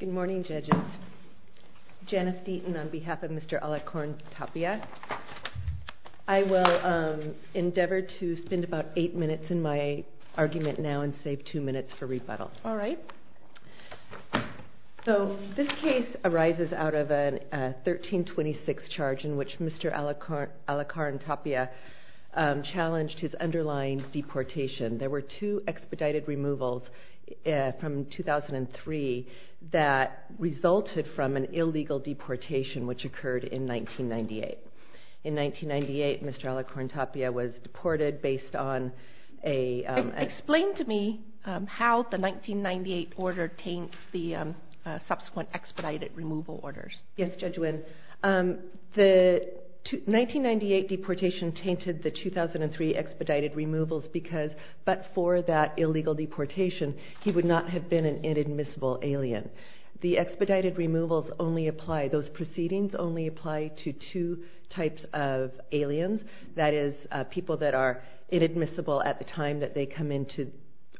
Good morning judges. Janice Deaton on behalf of Mr. Alarcon-Tapia. I will endeavor to spend about 8 minutes in my argument now and save 2 minutes for rebuttal. Alright, so this case arises out of a 1326 charge in which Mr. Alarcon-Tapia challenged his underlying deportation. There were 2 expedited removals from 2003 that resulted from an illegal deportation which occurred in 1998. In 1998, Mr. Alarcon-Tapia was deported based on a... Explain to me how the 1998 order taints the subsequent expedited removal orders. Yes, Judge Wynn. The 1998 deportation tainted the 2003 expedited removals because, but for that illegal deportation, he would not have been an inadmissible alien. The expedited removals only apply, those proceedings only apply to 2 types of aliens, that is people that are inadmissible at the time that they come into,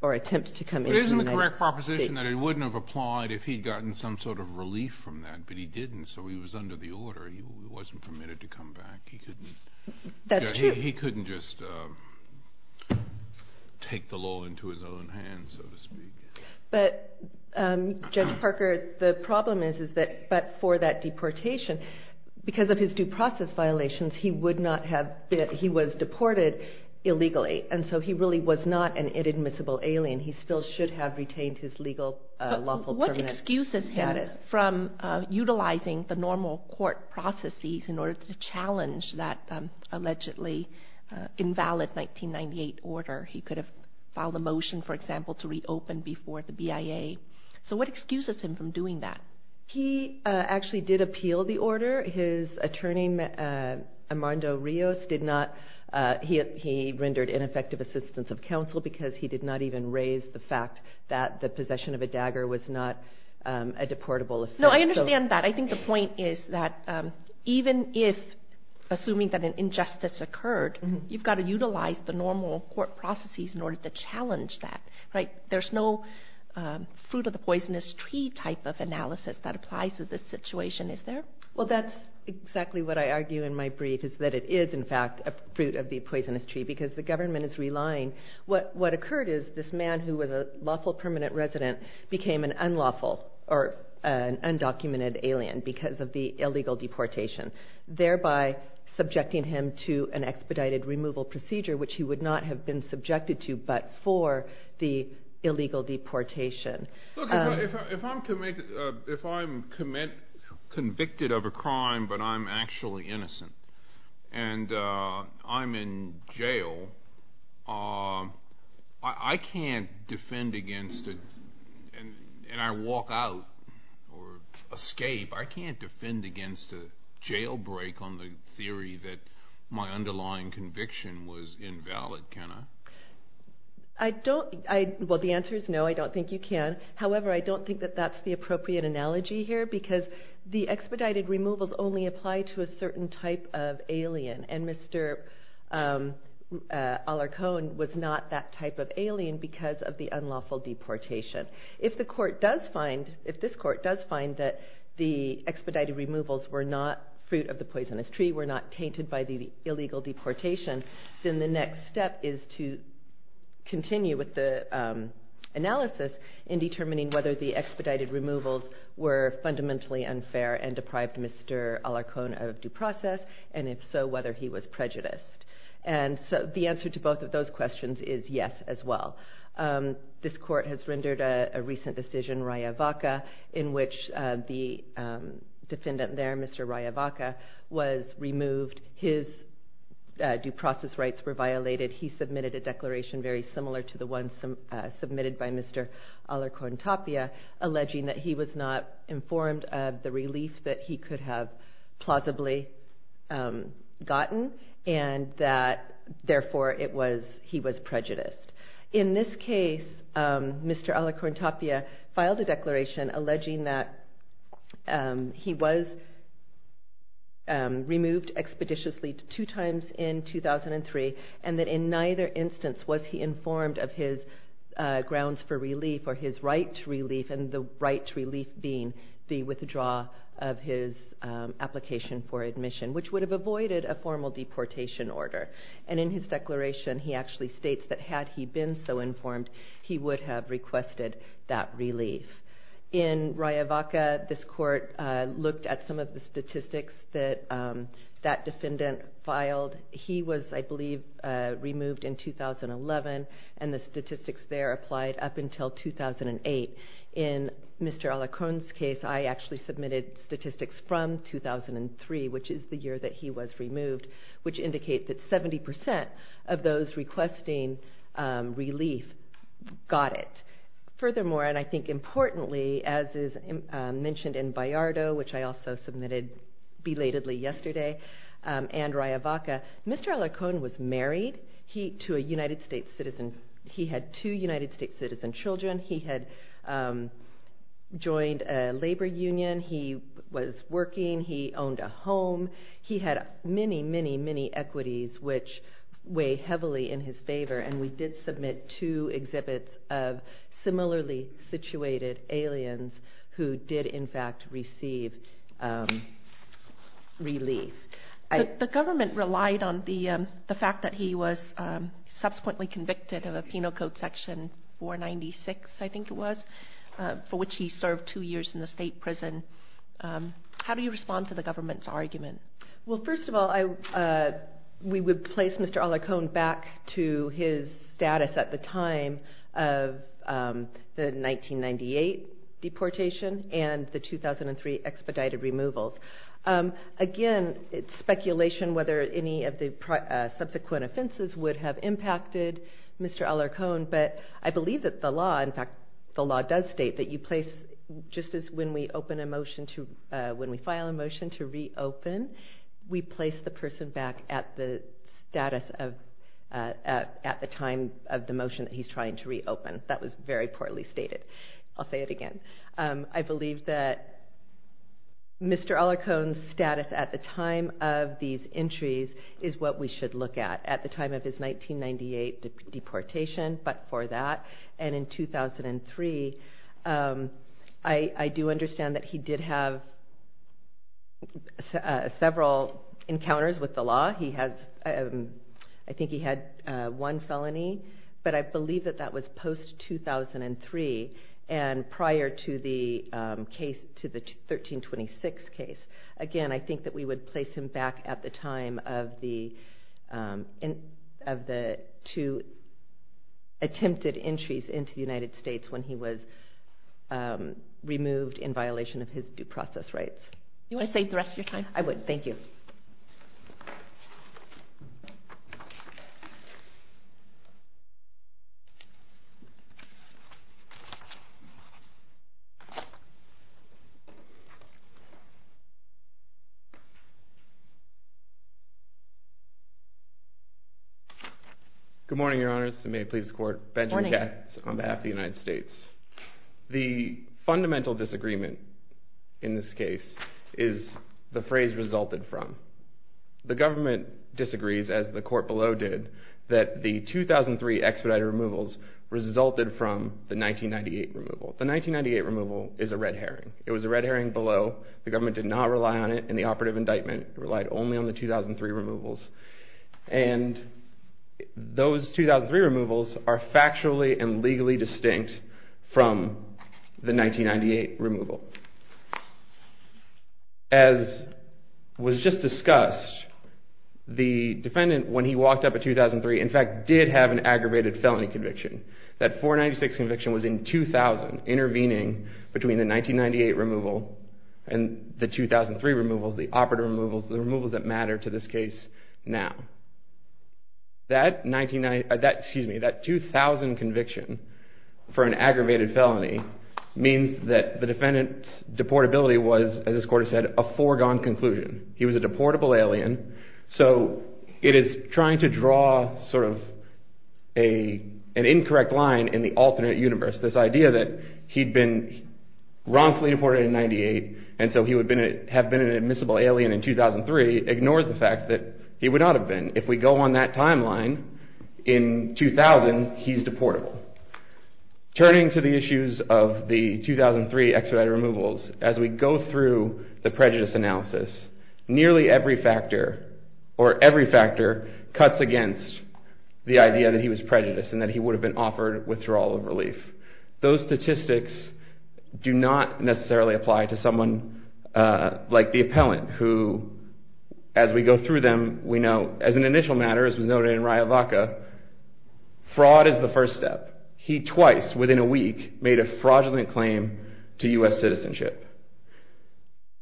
or attempt to come into the United States. But isn't the correct proposition that it wouldn't have applied if he'd gotten some sort of relief from that, but he didn't, so he was under the order, he wasn't permitted to come back, he couldn't... That's true. He couldn't just take the law into his own hands, so to speak. But Judge Parker, the problem is that, but for that deportation, because of his due process violations, he would not have been, he was deported illegally, and so he really was not an inadmissible alien. He still should have retained his legal lawful permanent status. But from utilizing the normal court processes in order to challenge that allegedly invalid 1998 order, he could have filed a motion, for example, to reopen before the BIA. So what excuses him from doing that? He actually did appeal the order. His attorney, Armando Rios, did not, he rendered ineffective assistance of counsel because he did not even raise the fact that the possession of a dagger was not a deportable offense. No, I understand that. I think the point is that even if, assuming that an injustice occurred, you've got to utilize the normal court processes in order to challenge that, right? There's no fruit of the poisonous tree type of analysis that applies to this situation, is there? Well, that's exactly what I argue in my brief, is that it is, in fact, a fruit of the poisonous tree, because the government is relying. What occurred is this man, who was a lawful permanent resident, became an unlawful or an undocumented alien because of the illegal deportation, thereby subjecting him to an expedited removal procedure, which he would not have been subjected to but for the illegal deportation. Look, if I'm convicted of a crime but I'm actually innocent and I'm in jail, I can't defend against it and I walk out or escape. I can't defend against a jailbreak on the theory that my underlying conviction was invalid, can I? Well, the answer is no, I don't think you can. However, I don't think that that's the appropriate analogy here because the expedited removals only apply to a certain type of alien and Mr. Alarcon was not that type of alien because of the unlawful deportation. If the court does find, if this court does find that the expedited removals were not fruit of the poisonous tree, were not tainted by the illegal deportation, then the next step is to continue with the analysis in determining whether the expedited removals were fundamentally unfair and deprived Mr. Alarcon of due process, and if so, whether he was prejudiced. And so the answer to both of those questions is yes as well. This court has rendered a recent decision, Raya Vaca, in which the defendant there, Mr. Raya Vaca, was removed, his due process rights were violated, he submitted a declaration very similar to the one submitted by Mr. Alarcon Tapia alleging that he was not informed of the relief that he could have plausibly gotten and that therefore he was prejudiced. In this case, Mr. Alarcon Tapia filed a declaration alleging that he was removed expeditiously two times in 2003 and that in neither instance was he informed of his grounds for relief or his right to relief and the right to relief being the withdrawal of his application for admission, which would have avoided a formal deportation order. And in his declaration, he actually states that had he been so informed, he would have requested that relief. In Raya Vaca, this court looked at some of the statistics that that defendant filed. He was, I believe, removed in 2011 and the statistics there applied up until 2008. In Mr. Alarcon's case, I actually submitted statistics from 2003, which is the year that he was removed, which indicates that 70% of those requesting relief got it. Furthermore, and I think importantly, as is mentioned in Vallardo, which I also submitted belatedly yesterday, and Raya Vaca, Mr. Alarcon was married to a United States citizen. He had two United States citizen children. He had joined a labor union. He was working. He owned a home. He had many, many, many equities, which weigh heavily in his favor, and we did submit two exhibits of similarly situated aliens who did in fact receive relief. The government relied on the fact that he was subsequently convicted of a penal code section 496, I think it was, for which he served two years in the state prison. How do you respond to the government's argument? Well, first of all, we would place Mr. Alarcon back to his status at the time of the 1998 deportation and the 2003 expedited removals. Again, it's speculation whether any of the subsequent offenses would have impacted Mr. Alarcon, but I believe that the law, in fact, the law does state that you place, just as when we open a motion to, when we file a motion to reopen, we place the person back at the status of, at the time of the motion that he's trying to reopen. That was very poorly stated. I'll say it again. I believe that Mr. Alarcon's status at the time of these entries is what we should look at, at the time of his 1998 deportation, but for that, and in 2003, I do understand that he did have several encounters with the law. He has, I think he had one felony, but I believe that that was post-2003 and prior to the case, to the 1326 case. Again, I think that we would place him back at the time of the two attempted entries into the United States when he was removed in violation of his due process rights. You want to save the rest of your time? I would. Thank you. Good morning, Your Honors, and may it please the Court, Benjamin Katz on behalf of the United States. The fundamental disagreement in this case is the phrase resulted from. The government disagrees, as the court below did, that the 2003 expedited removals resulted from the 1998 removal. The 1998 removal is a red herring. It was a red herring below. The government did not rely on it in the operative indictment. It relied only on the 2003 removals. Those 2003 removals are factually and legally distinct from the 1998 removal. As was just discussed, the defendant, when he walked up in 2003, in fact did have an aggravated felony conviction. That 496 conviction was in 2000, intervening between the 1998 removal and the 2003 removals, the operative removals, the removals that matter to this case now. That 2000 conviction for an aggravated felony means that the defendant's deportability was, as this Court has said, a foregone conclusion. He was a deportable alien, so it is trying to draw an incorrect line in the alternate universe. This idea that he'd been wrongfully deported in 1998, and so he would have been an admissible alien in 2003, ignores the fact that he would not have been. If we go on that timeline, in 2000, he's deportable. Turning to the issues of the 2003 expedited removals, as we go through the prejudice analysis, nearly every factor, or every factor, cuts against the idea that he was prejudiced and that he would have been offered withdrawal of relief. Those statistics do not necessarily apply to someone like the appellant, who, as we go through them, we know, as an initial matter, as was noted in Riavaca, fraud is the first step. He twice, within a week, made a fraudulent claim to U.S. citizenship.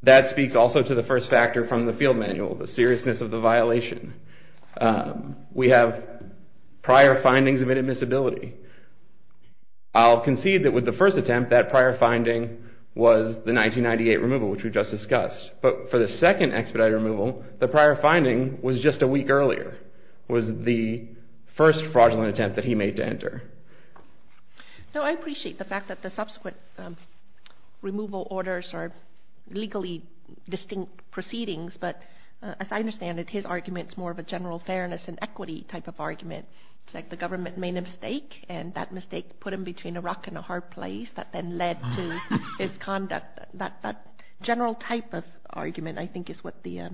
That speaks also to the first factor from the field manual, the seriousness of the violation. We have prior findings of inadmissibility. I'll concede that with the first attempt, that prior finding was the 1998 removal, which we just discussed. But for the second expedited removal, the prior finding was just a week earlier, was the first fraudulent attempt that he made to enter. Now, I appreciate the fact that the subsequent removal orders are legally distinct proceedings, but as I understand it, his argument is more of a general fairness and equity type of argument. It's like the government made a mistake, and that mistake put him between a rock and a hard place that then led to his conduct. That general type of argument, I think, is what the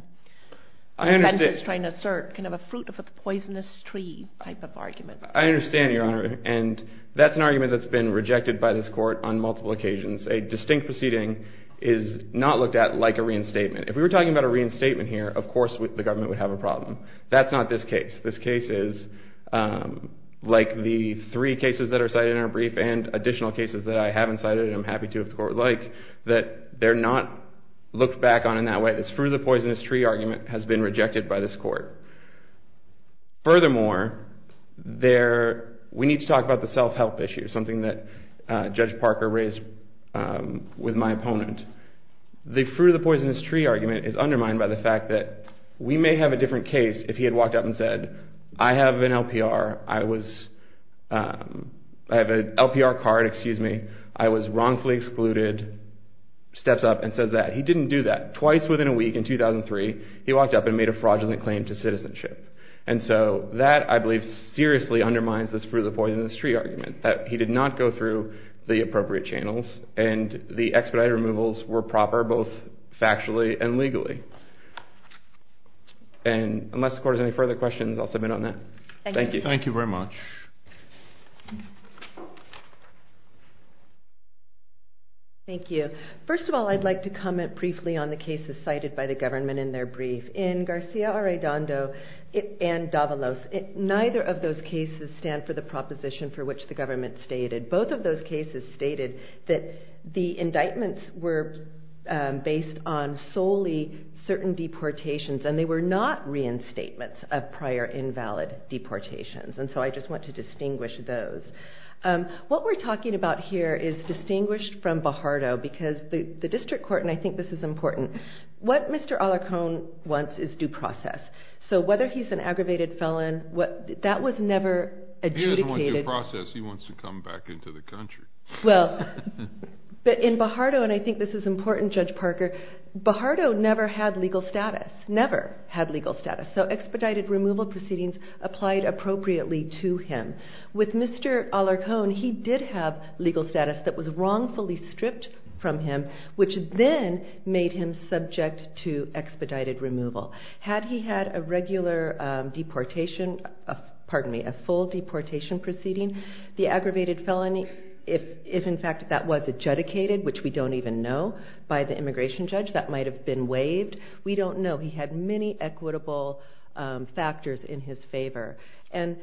defense is trying to assert, kind of a fruit of a poisonous tree type of argument. I understand, Your Honor, and that's an argument that's been rejected by this court on multiple occasions. A distinct proceeding is not looked at like a reinstatement. If we were talking about a reinstatement here, of course the government would have a problem. That's not this case. This case is like the three cases that are cited in our brief and additional cases that I haven't cited and I'm happy to if the court would like, that they're not looked back on in that way. This fruit of the poisonous tree argument has been rejected by this court. Furthermore, we need to talk about the self-help issue, something that Judge Parker raised with my opponent. The fruit of the poisonous tree argument is undermined by the fact that we may have a different case if he had walked up and said, I have an LPR, I have an LPR card, I was wrongfully excluded, steps up and says that. He didn't do that. Twice within a week in 2003, he walked up and made a fraudulent claim to citizenship. That, I believe, seriously undermines this fruit of the poisonous tree argument, that he did not go through the appropriate channels and the expedited removals were proper both factually and legally. And unless the court has any further questions, I'll submit on that. Thank you. Thank you very much. Thank you. First of all, I'd like to comment briefly on the cases cited by the government in their brief. In Garcia Arredondo and Davalos, neither of those cases stand for the proposition for which the government stated. Both of those cases stated that the indictments were based on solely certain deportations, and they were not reinstatements of prior invalid deportations. And so I just want to distinguish those. What we're talking about here is distinguished from Bajardo because the district court, and I think this is important, what Mr. Alarcon wants is due process. So whether he's an aggravated felon, that was never adjudicated. He doesn't want due process. He wants to come back into the country. Well, but in Bajardo, and I think this is important, Judge Parker, Bajardo never had legal status, never had legal status. So expedited removal proceedings applied appropriately to him. With Mr. Alarcon, he did have legal status that was wrongfully stripped from him, which then made him subject to expedited removal. Had he had a regular deportation, pardon me, a full deportation proceeding, the aggravated felony, if in fact that was adjudicated, which we don't even know by the immigration judge, that might have been waived. We don't know. He had many equitable factors in his favor. And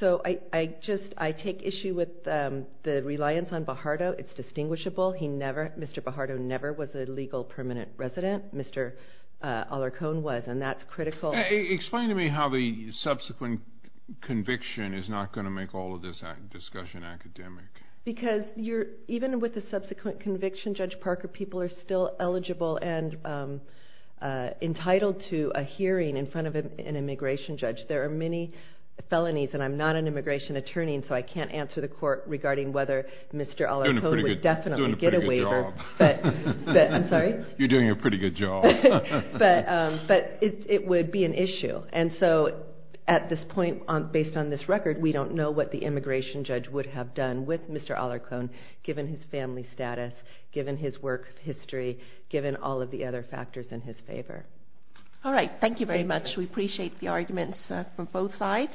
so I take issue with the reliance on Bajardo. It's distinguishable. Mr. Bajardo never was a legal permanent resident. Mr. Alarcon was, and that's critical. Explain to me how the subsequent conviction is not going to make all of this discussion academic. Because even with the subsequent conviction, Judge Parker, people are still eligible and entitled to a hearing in front of an immigration judge. There are many felonies, and I'm not an immigration attorney, and so I can't answer the court regarding whether Mr. Alarcon would definitely get a waiver. You're doing a pretty good job. But it would be an issue. And so at this point, based on this record, we don't know what the immigration judge would have done with Mr. Alarcon, given his family status, given his work history, given all of the other factors in his favor. All right. Thank you very much. We appreciate the arguments from both sides.